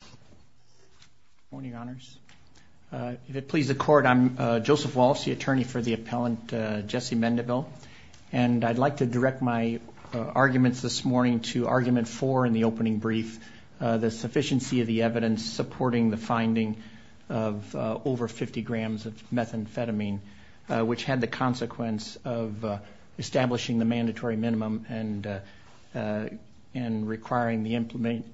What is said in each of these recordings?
Good morning, Honors. If it pleases the Court, I'm Joseph Walsh, the attorney for the appellant Jesse Mendivil, and I'd like to direct my arguments this morning to Argument 4 in the opening brief, the sufficiency of the evidence supporting the finding of over 50 grams of methamphetamine, which had the consequence of establishing the mandatory minimum and requiring the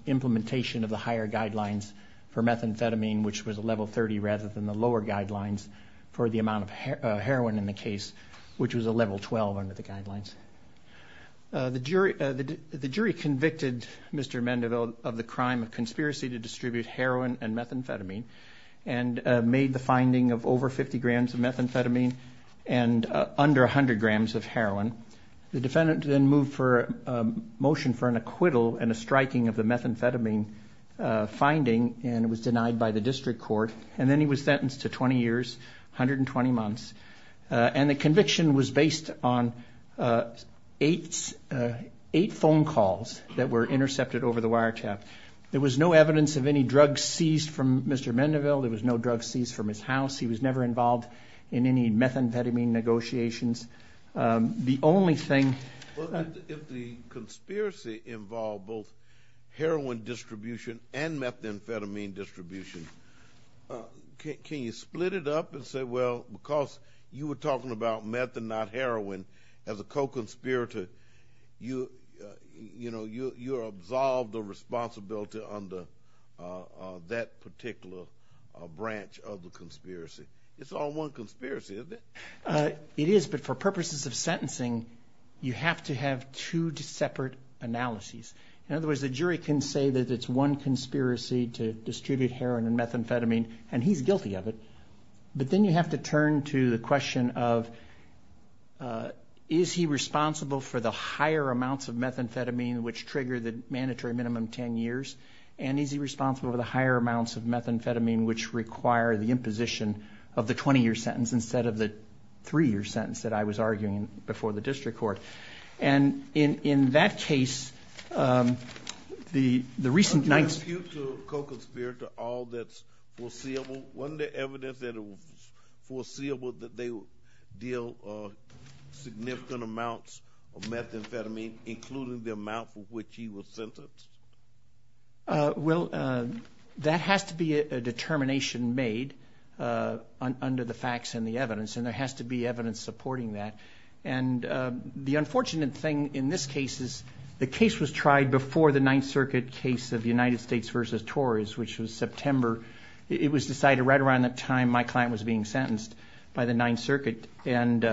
implementation of the higher guidelines for methamphetamine, which was a level 30 rather than the lower guidelines for the amount of heroin in the case, which was a level 12 under the guidelines. The jury convicted Mr. Mendivil of the crime of conspiracy to distribute heroin and methamphetamine and made the finding of over 50 grams of methamphetamine and under 100 grams of heroin. The defendant then moved for a motion for an acquittal and a striking of the methamphetamine finding and it was denied by the district court, and then he was sentenced to 20 years, 120 months, and the conviction was based on eight phone calls that were intercepted over the wiretap. There was no evidence of any drugs seized from Mr. Mendivil. There was no drugs seized from his house. He was never involved in any methamphetamine negotiations. The only thing. If the conspiracy involved both heroin distribution and methamphetamine distribution, can you split it up and say, well, because you were talking about meth and not heroin as a co-conspirator, you're absolved of responsibility under that particular branch of the conspiracy. It's all one conspiracy, isn't it? It is, but for purposes of sentencing, you have to have two separate analyses. In other words, the jury can say that it's one conspiracy to distribute heroin and methamphetamine, and he's guilty of it, but then you have to turn to the question of, is he responsible for the higher amounts of methamphetamine, which trigger the mandatory minimum 10 years, and is he responsible for the higher amounts of methamphetamine, which require the imposition of the 20-year sentence instead of the 3-year sentence that I was arguing before the district court. And in that case, the recent nights. Can I ask you to co-conspirator all that's foreseeable? Wasn't there evidence that it was foreseeable that they would deal significant amounts of methamphetamine, including the amount for which he was sentenced? Well, that has to be a determination made under the facts and the evidence, and there has to be evidence supporting that. And the unfortunate thing in this case is the case was tried before the Ninth Circuit case of the United States versus Tories, which was September. It was decided right around the time my client was being sentenced by the Ninth Circuit, and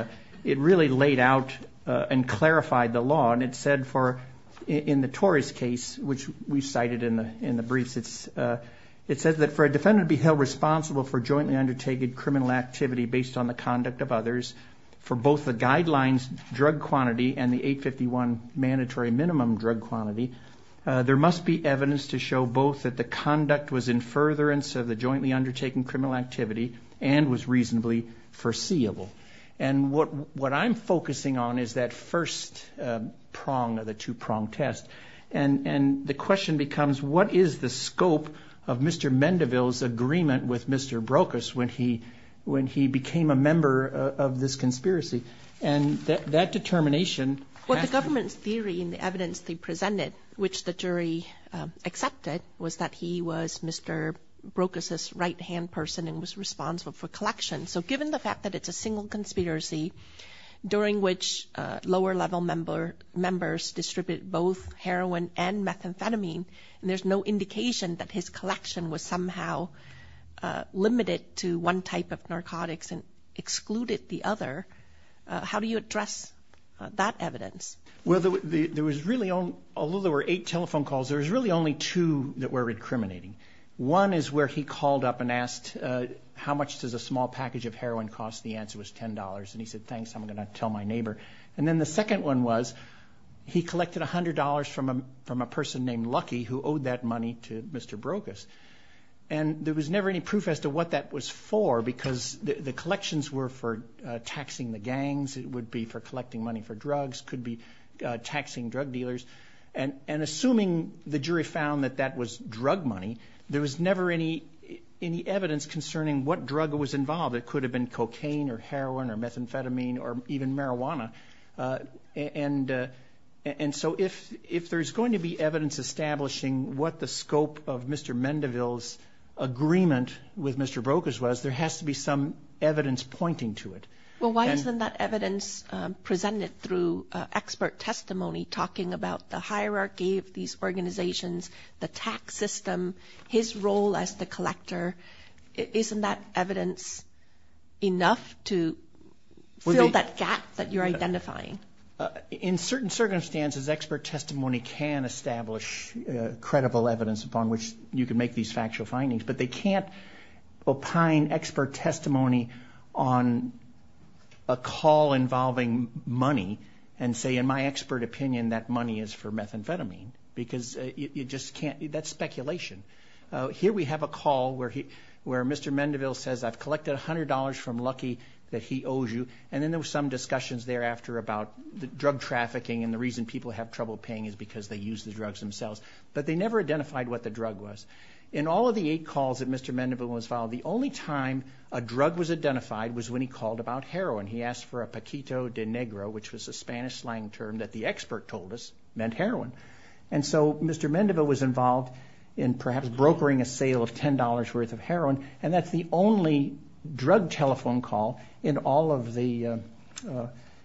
it really laid out and clarified the law. And it said for in the Tories case, which we cited in the briefs, it says that for a defendant to be held responsible for jointly undertaken criminal activity based on the conduct of others, for both the guidelines drug quantity and the 851 mandatory minimum drug quantity, there must be evidence to show both that the conduct was in furtherance of the jointly undertaken criminal activity and was reasonably foreseeable. And what I'm focusing on is that first prong of the two-prong test. And the question becomes, what is the scope of Mr. Mendeville's agreement with Mr. Brokus when he became a member of this conspiracy? And that determination has to be ---- Well, the government's theory and the evidence they presented, which the jury accepted, was that he was Mr. Brokus's right-hand person and was responsible for collection. So given the fact that it's a single conspiracy, during which lower-level members distribute both heroin and methamphetamine, and there's no indication that his collection was somehow limited to one type of narcotics and excluded the other, how do you address that evidence? Well, there was really only ---- although there were eight telephone calls, there was really only two that were recriminating. One is where he called up and asked, how much does a small package of heroin cost? The answer was $10. And he said, thanks, I'm going to tell my neighbor. And then the second one was he collected $100 from a person named Lucky who owed that money to Mr. Brokus. And there was never any proof as to what that was for because the collections were for taxing the gangs, it would be for collecting money for drugs, could be taxing drug dealers. And assuming the jury found that that was drug money, there was never any evidence concerning what drug was involved. It could have been cocaine or heroin or methamphetamine or even marijuana. And so if there's going to be evidence establishing what the scope of Mr. Mendeville's agreement with Mr. Brokus was, there has to be some evidence pointing to it. Well, why isn't that evidence presented through expert testimony talking about the hierarchy of these organizations, the tax system, his role as the collector? Isn't that evidence enough to fill that gap that you're identifying? In certain circumstances, expert testimony can establish credible evidence upon which you can make these factual findings, but they can't opine expert testimony on a call involving money and say, in my expert opinion, that money is for methamphetamine because you just can't. That's speculation. Here we have a call where Mr. Mendeville says, I've collected $100 from Lucky that he owes you, and then there were some discussions thereafter about drug trafficking and the reason people have trouble paying is because they use the drugs themselves. But they never identified what the drug was. In all of the eight calls that Mr. Mendeville was followed, the only time a drug was identified was when he called about heroin. He asked for a paquito de negro, which was a Spanish slang term that the expert told us meant heroin. And so Mr. Mendeville was involved in perhaps brokering a sale of $10 worth of heroin, and that's the only drug telephone call in all of the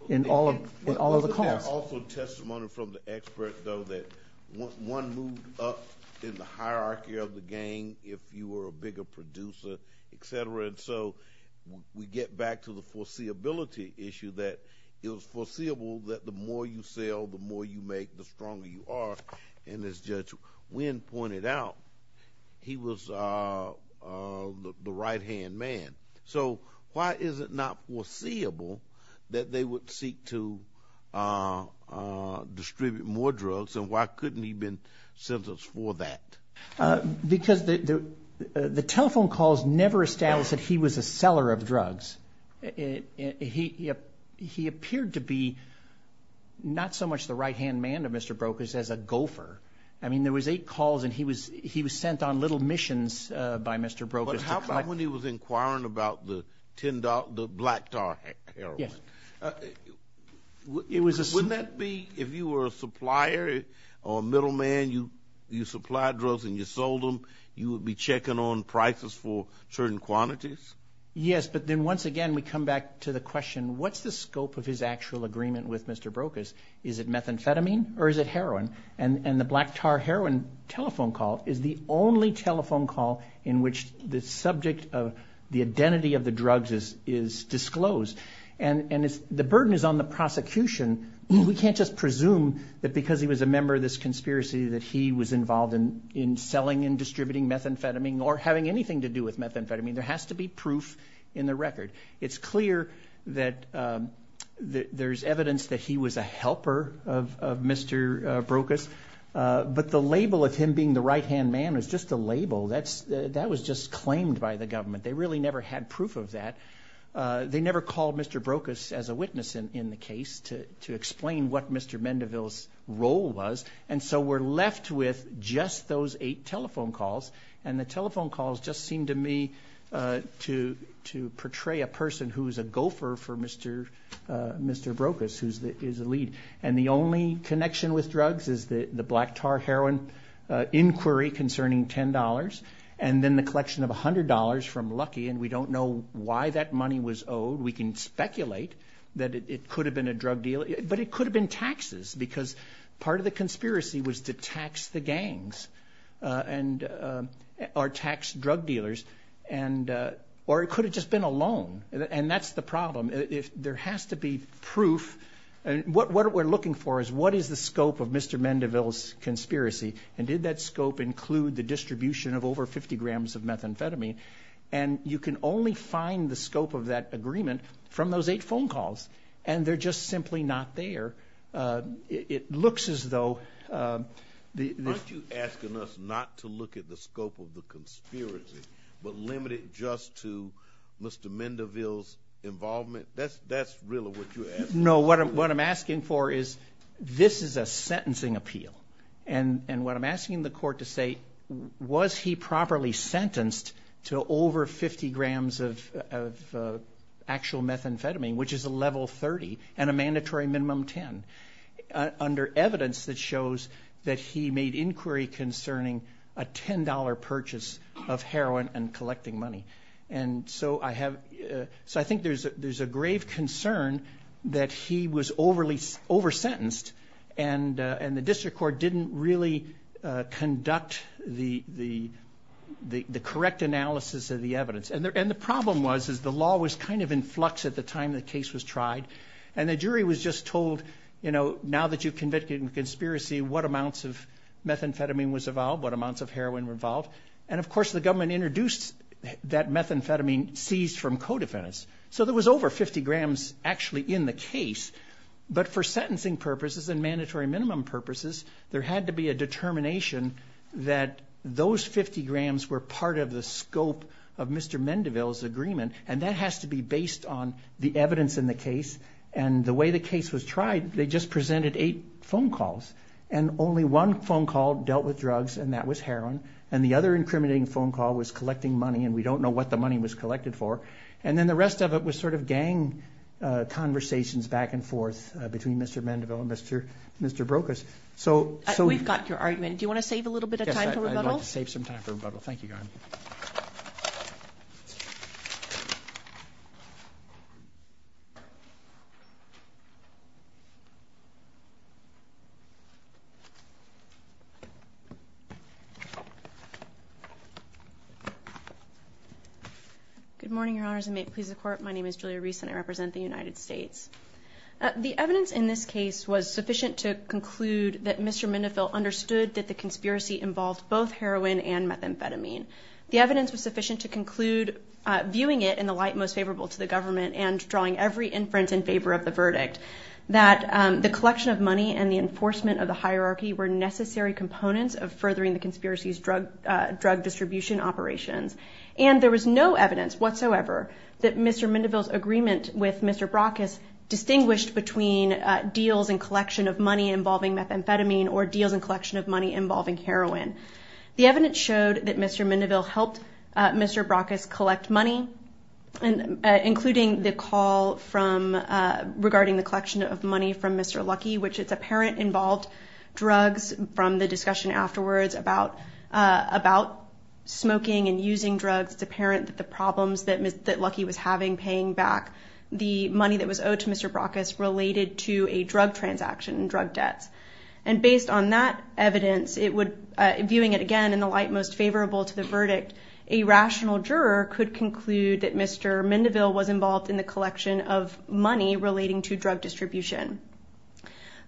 calls. I also have testimony from the expert, though, that one moved up in the hierarchy of the gang if you were a bigger producer, et cetera. And so we get back to the foreseeability issue that it was foreseeable that the more you sell, the more you make, the stronger you are. And as Judge Wynn pointed out, he was the right-hand man. So why is it not foreseeable that they would seek to distribute more drugs and why couldn't he have been sentenced for that? Because the telephone calls never established that he was a seller of drugs. He appeared to be not so much the right-hand man of Mr. Brokers as a gopher. I mean, there was eight calls and he was sent on little missions by Mr. Brokers. But how about when he was inquiring about the black tar heroin? Yes. Wouldn't that be if you were a supplier or a middleman, you supplied drugs and you sold them, you would be checking on prices for certain quantities? Yes, but then once again we come back to the question, what's the scope of his actual agreement with Mr. Brokers? Is it methamphetamine or is it heroin? And the black tar heroin telephone call is the only telephone call in which the subject of the identity of the drugs is disclosed. And the burden is on the prosecution. We can't just presume that because he was a member of this conspiracy that he was involved in selling and distributing methamphetamine or having anything to do with methamphetamine. There has to be proof in the record. It's clear that there's evidence that he was a helper of Mr. Brokers. But the label of him being the right-hand man was just a label. That was just claimed by the government. They really never had proof of that. They never called Mr. Brokers as a witness in the case to explain what Mr. Mendeville's role was. And so we're left with just those eight telephone calls. And the telephone calls just seem to me to portray a person who is a gopher for Mr. Brokers, who is the lead. And the only connection with drugs is the black tar heroin inquiry concerning $10 and then the collection of $100 from Lucky, and we don't know why that money was owed. We can speculate that it could have been a drug deal. But it could have been taxes because part of the conspiracy was to tax the gangs. And our tax drug dealers. Or it could have just been a loan. And that's the problem. There has to be proof. What we're looking for is what is the scope of Mr. Mendeville's conspiracy, and did that scope include the distribution of over 50 grams of methamphetamine. And you can only find the scope of that agreement from those eight phone calls. And they're just simply not there. It looks as though the ---- Are you asking us not to look at the scope of the conspiracy, but limit it just to Mr. Mendeville's involvement? That's really what you're asking. No, what I'm asking for is this is a sentencing appeal. And what I'm asking the court to say, was he properly sentenced to over 50 grams of actual methamphetamine, which is a level 30 and a mandatory minimum 10, under evidence that shows that he made inquiry concerning a $10 purchase of heroin and collecting money. And so I think there's a grave concern that he was over-sentenced and the district court didn't really conduct the correct analysis of the evidence. And the problem was the law was kind of in flux at the time the case was tried, and the jury was just told, you know, now that you've convicted in conspiracy, what amounts of methamphetamine was involved, what amounts of heroin were involved. And, of course, the government introduced that methamphetamine seized from co-defendants. So there was over 50 grams actually in the case. But for sentencing purposes and mandatory minimum purposes, there had to be a determination that those 50 grams were part of the scope of Mr. Mendeville's agreement. And that has to be based on the evidence in the case. And the way the case was tried, they just presented eight phone calls. And only one phone call dealt with drugs, and that was heroin. And the other incriminating phone call was collecting money, and we don't know what the money was collected for. And then the rest of it was sort of gang conversations back and forth between Mr. Mendeville and Mr. Brokus. We've got your argument. Do you want to save a little bit of time for rebuttal? Yes, I'd like to save some time for rebuttal. Thank you, Your Honor. Good morning, Your Honors, and may it please the Court. My name is Julia Reese, and I represent the United States. The evidence in this case was sufficient to conclude that Mr. Mendeville understood that the conspiracy involved both heroin and methamphetamine. The evidence was sufficient to conclude, viewing it in the light most favorable to the government and drawing every inference in favor of the verdict, that the collection of money and the enforcement of the hierarchy were necessary components of furthering the conspiracy's drug distribution operations. And there was no evidence whatsoever that Mr. Mendeville's agreement with Mr. Brokus distinguished between deals and collection of money involving methamphetamine or deals and collection of money involving heroin. The evidence showed that Mr. Mendeville helped Mr. Brokus collect money, including the call regarding the collection of money from Mr. Luckey, which it's apparent involved drugs from the discussion afterwards about smoking and using drugs. It's apparent that the problems that Luckey was having paying back the money that was owed to Mr. Brokus related to a drug transaction and drug debts. And based on that evidence, viewing it again in the light most favorable to the verdict, a rational juror could conclude that Mr. Mendeville was involved in the collection of money relating to drug distribution.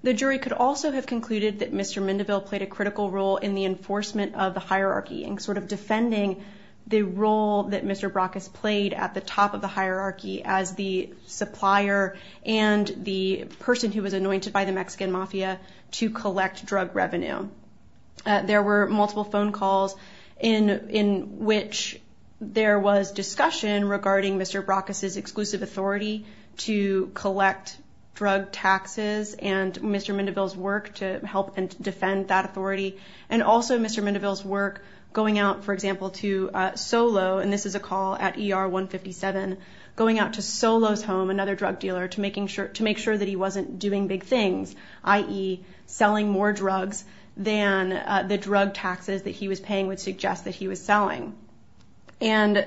The jury could also have concluded that Mr. Mendeville played a critical role in the enforcement of the hierarchy in sort of defending the role that Mr. Brokus played at the top of the hierarchy as the supplier and the person who was anointed by the Mexican mafia to collect drug revenue. There were multiple phone calls in which there was discussion regarding Mr. Brokus' exclusive authority to collect drug taxes and Mr. Mendeville's work to help and defend that authority and also Mr. Mendeville's work going out, for example, to Solo, and this is a call at ER 157, going out to Solo's home, another drug dealer, to make sure that he wasn't doing big things, i.e. selling more drugs than the drug taxes that he was paying would suggest that he was selling. And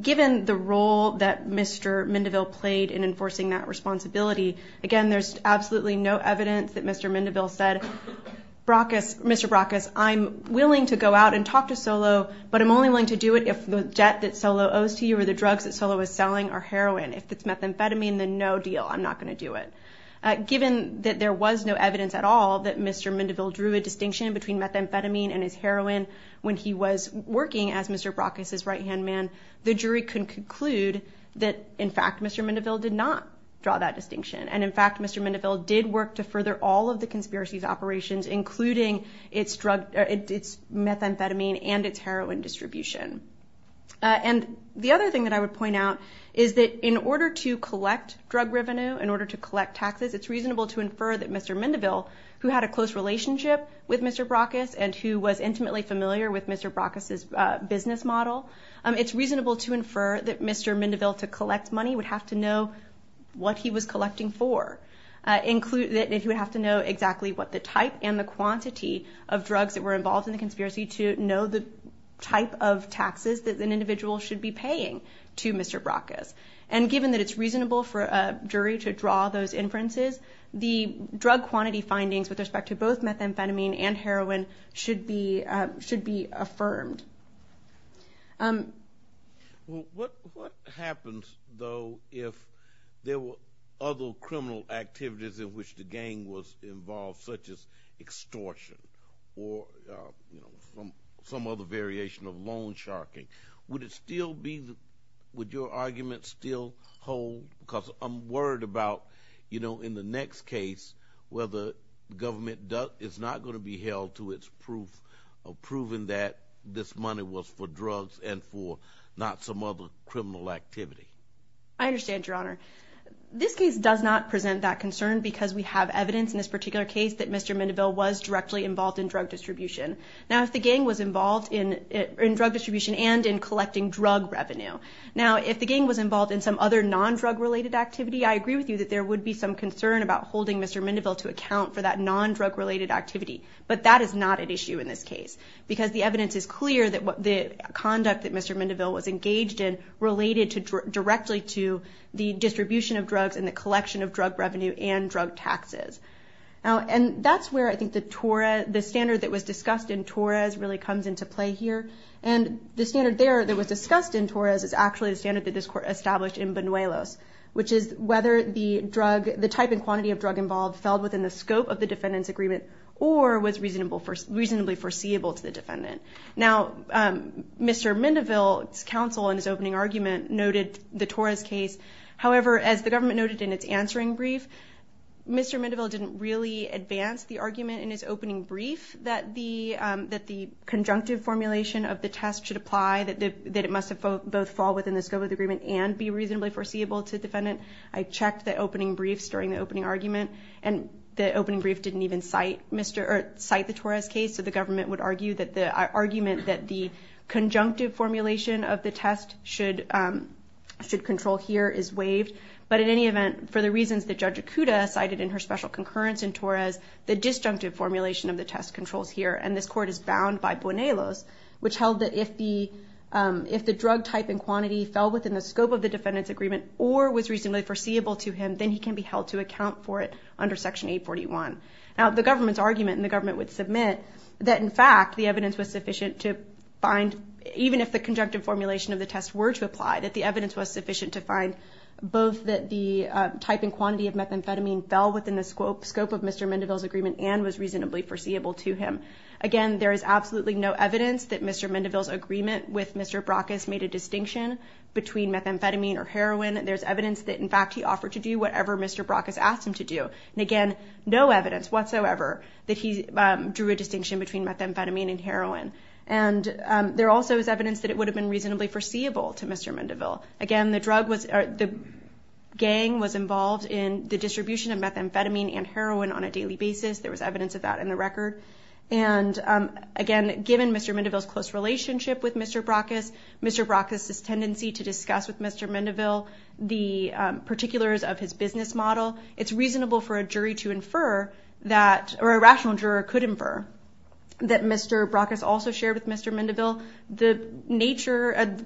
given the role that Mr. Mendeville played in enforcing that responsibility, again, there's absolutely no evidence that Mr. Mendeville said, Mr. Brokus, I'm willing to go out and talk to Solo, but I'm only willing to do it if the debt that Solo owes to you or the drugs that Solo is selling are heroin. If it's methamphetamine, then no deal. I'm not going to do it. Given that there was no evidence at all that Mr. Mendeville drew a distinction between methamphetamine and his heroin when he was working as Mr. Brokus' right-hand man, the jury can conclude that, in fact, Mr. Mendeville did not draw that distinction, and, in fact, Mr. Mendeville did work to further all of the conspiracy's operations, including its methamphetamine and its heroin distribution. And the other thing that I would point out is that in order to collect drug revenue, in order to collect taxes, it's reasonable to infer that Mr. Mendeville, who had a close relationship with Mr. Brokus and who was intimately familiar with Mr. Brokus' business model, it's reasonable to infer that Mr. Mendeville, to collect money, would have to know what he was collecting for. He would have to know exactly what the type and the quantity of drugs that were involved in the conspiracy to know the type of taxes that an individual should be paying to Mr. Brokus. And given that it's reasonable for a jury to draw those inferences, the drug quantity findings with respect to both methamphetamine and heroin should be affirmed. What happens, though, if there were other criminal activities in which the gang was involved, such as extortion or some other variation of loan sharking? Would your argument still hold? Because I'm worried about, you know, in the next case, whether government is not going to be held to its proof of proving that this money was for drugs and for not some other criminal activity. I understand, Your Honor. This case does not present that concern because we have evidence in this particular case that Mr. Mendeville was directly involved in drug distribution. Now, if the gang was involved in drug distribution and in collecting drug revenue, now, if the gang was involved in some other nondrug-related activity, I agree with you that there would be some concern about holding Mr. Mendeville to account for that nondrug-related activity. But that is not an issue in this case because the evidence is clear that the conduct that Mr. Mendeville was engaged in related directly to the distribution of drugs and the collection of drug revenue and drug taxes. And that's where I think the standard that was discussed in Torres really comes into play here. And the standard there that was discussed in Torres is actually the standard that this Court established in Buñuelos, which is whether the type and quantity of drug involved fell within the scope of the defendant's agreement or was reasonably foreseeable to the defendant. Now, Mr. Mendeville's counsel in his opening argument noted the Torres case. However, as the government noted in its answering brief, Mr. Mendeville didn't really advance the argument in his opening brief that the conjunctive formulation of the test should apply, that it must both fall within the scope of the agreement and be reasonably foreseeable to the defendant. I checked the opening briefs during the opening argument, and the opening brief didn't even cite the Torres case. So the government would argue that the argument that the conjunctive formulation of the test should control here is waived. But in any event, for the reasons that Judge Acuda cited in her special concurrence in Torres, the disjunctive formulation of the test controls here, and this Court is bound by Buñuelos, which held that if the drug type and quantity fell within the scope of the defendant's agreement or was reasonably foreseeable to him, then he can be held to account for it under Section 841. Now, the government's argument, and the government would submit, that in fact the evidence was sufficient to find, even if the conjunctive formulation of the test were to apply, that the evidence was sufficient to find both that the type and quantity of methamphetamine fell within the scope of Mr. Mendeville's agreement and was reasonably foreseeable to him. Again, there is absolutely no evidence that Mr. Mendeville's agreement with Mr. Brockes made a distinction between methamphetamine or heroin. There's evidence that, in fact, he offered to do whatever Mr. Brockes asked him to do. And again, no evidence whatsoever that he drew a distinction between methamphetamine and heroin. And there also is evidence that it would have been reasonably foreseeable to Mr. Mendeville. Again, the gang was involved in the distribution of methamphetamine and heroin on a daily basis. There was evidence of that in the record. And again, given Mr. Mendeville's close relationship with Mr. Brockes, Mr. Brockes's tendency to discuss with Mr. Mendeville the particulars of his business model, it's reasonable for a jury to infer that, or a rational juror could infer, that Mr. Brockes also shared with Mr. Mendeville the nature of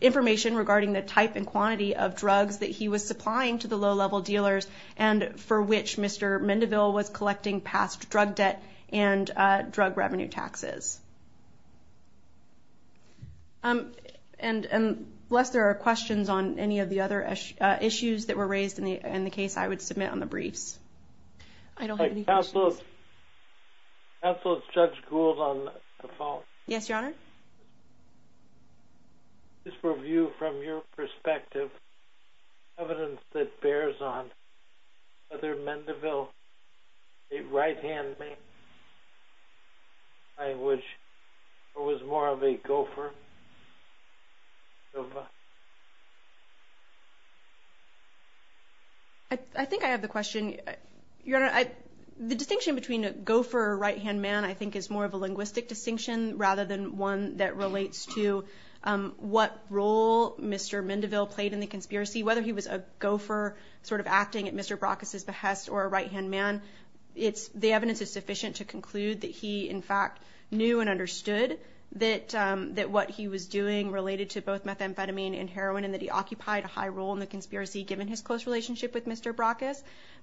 information regarding the type and quantity of drugs that he was supplying to the low-level dealers and for which Mr. Mendeville was collecting past drug debt and drug revenue taxes. And unless there are questions on any of the other issues that were raised in the case, I would submit on the briefs. I don't have any questions. Counsel, is Judge Gould on the phone? Yes, Your Honor. Judge, just for view from your perspective, evidence that bears on whether Mendeville, a right-hand man, was more of a gopher? I think I have the question. Your Honor, the distinction between a gopher or a right-hand man I think is more of a linguistic distinction rather than one that relates to what role Mr. Mendeville played in the conspiracy. Whether he was a gopher sort of acting at Mr. Brockes's behest or a right-hand man, the evidence is sufficient to conclude that he, in fact, knew and understood that what he was doing related to both methamphetamine and heroin and that he occupied a high role in the conspiracy given his close relationship with Mr. Brockes.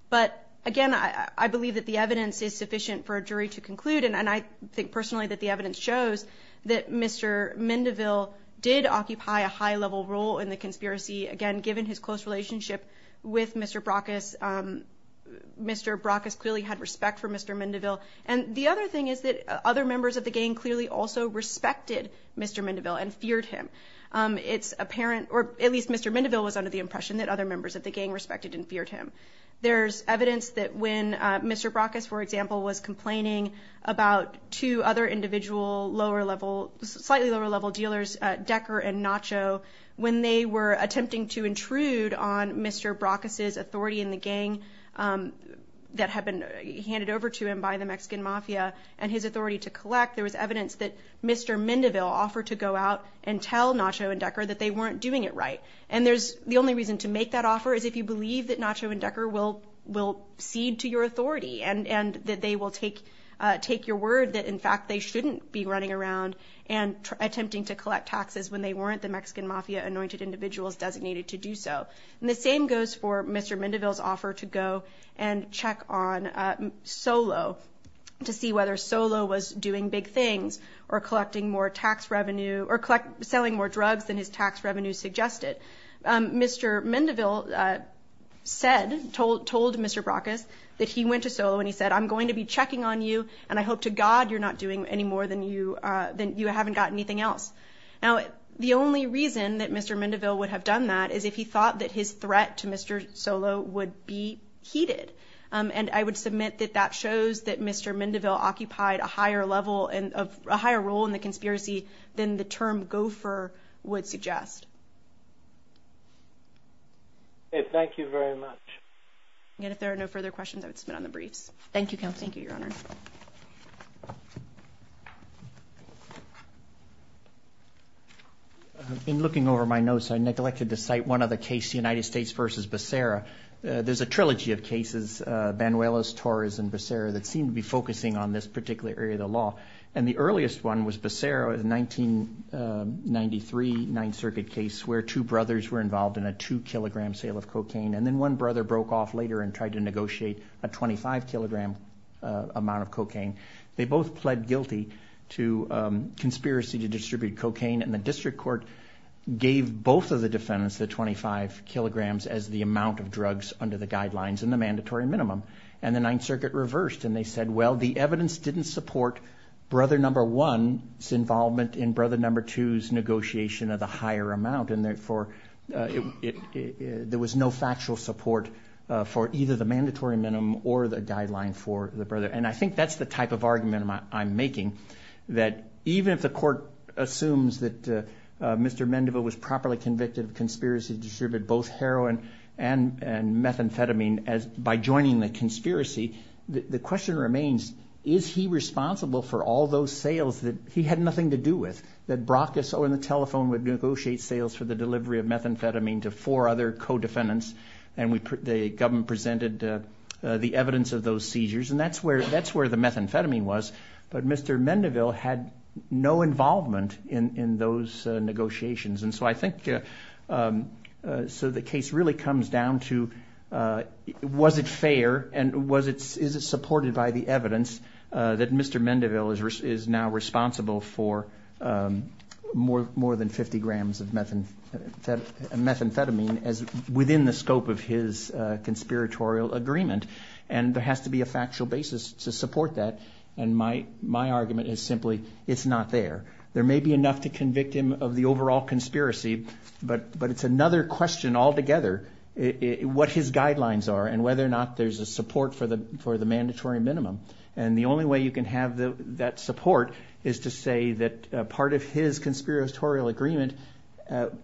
But, again, I believe that the evidence is sufficient for a jury to conclude, and I think personally that the evidence shows that Mr. Mendeville did occupy a high-level role in the conspiracy. Again, given his close relationship with Mr. Brockes, Mr. Brockes clearly had respect for Mr. Mendeville. And the other thing is that other members of the gang clearly also respected Mr. Mendeville and feared him. It's apparent, or at least Mr. Mendeville was under the impression, that other members of the gang respected and feared him. There's evidence that when Mr. Brockes, for example, was complaining about two other individual slightly lower-level dealers, Decker and Nacho, when they were attempting to intrude on Mr. Brockes's authority in the gang that had been handed over to him by the Mexican mafia and his authority to collect, there was evidence that Mr. Mendeville offered to go out and tell Nacho and Decker that they weren't doing it right. And the only reason to make that offer is if you believe that Nacho and Decker will cede to your authority and that they will take your word that, in fact, they shouldn't be running around and attempting to collect taxes when they weren't the Mexican mafia anointed individuals designated to do so. And the same goes for Mr. Mendeville's offer to go and check on Solo to see whether Solo was doing big things or collecting more tax revenue or selling more drugs than his tax revenue suggested. Mr. Mendeville said, told Mr. Brockes that he went to Solo and he said, I'm going to be checking on you, and I hope to God you're not doing any more than you haven't got anything else. Now, the only reason that Mr. Mendeville would have done that is if he thought that his threat to Mr. Solo would be heeded. And I would submit that that shows that Mr. Mendeville occupied a higher level and a higher role in the conspiracy than the term gopher would suggest. Thank you very much. And if there are no further questions, I would submit on the briefs. Thank you, Counsel. Thank you, Your Honor. In looking over my notes, I neglected to cite one other case, the United States versus Becerra. There's a trilogy of cases, Banuelos, Torres, and Becerra, that seem to be focusing on this particular area of the law. And the earliest one was Becerra, a 1993 Ninth Circuit case where two brothers were involved in a two-kilogram sale of cocaine, and then one brother broke off later and tried to negotiate a 25-kilogram amount of cocaine. They both pled guilty to conspiracy to distribute cocaine, and the district court gave both of the defendants the 25 kilograms as the amount of drugs under the guidelines and the mandatory minimum. And the Ninth Circuit reversed, and they said, well, the evidence didn't support brother number one's involvement in brother number two's negotiation of the higher amount, and therefore there was no factual support for either the mandatory minimum or the guideline for the brother. And I think that's the type of argument I'm making, that even if the court assumes that Mr. Mendeville was properly convicted of conspiracy to distribute both heroin and methamphetamine by joining the conspiracy, the question remains, is he responsible for all those sales that he had nothing to do with, that Brockes or the telephone would negotiate sales for the delivery of methamphetamine to four other co-defendants, and the government presented the evidence of those seizures, and that's where the methamphetamine was, but Mr. Mendeville had no involvement in those negotiations. And so I think the case really comes down to was it fair and is it supported by the evidence that Mr. Mendeville is now responsible for more than 50 grams of methamphetamine within the scope of his conspiratorial agreement, and there has to be a factual basis to support that, and my argument is simply it's not there. There may be enough to convict him of the overall conspiracy, but it's another question altogether what his guidelines are and whether or not there's a support for the mandatory minimum, and the only way you can have that support is to say that part of his conspiratorial agreement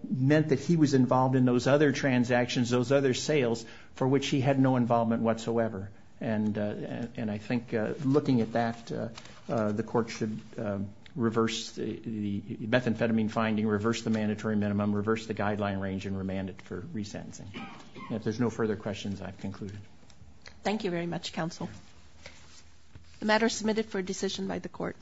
meant that he was involved in those other transactions, those other sales for which he had no involvement whatsoever, and I think looking at that, the court should reverse the methamphetamine finding, reverse the mandatory minimum, reverse the guideline range, and remand it for resentencing. If there's no further questions, I've concluded. Thank you very much, counsel. The matter is submitted for decision by the court.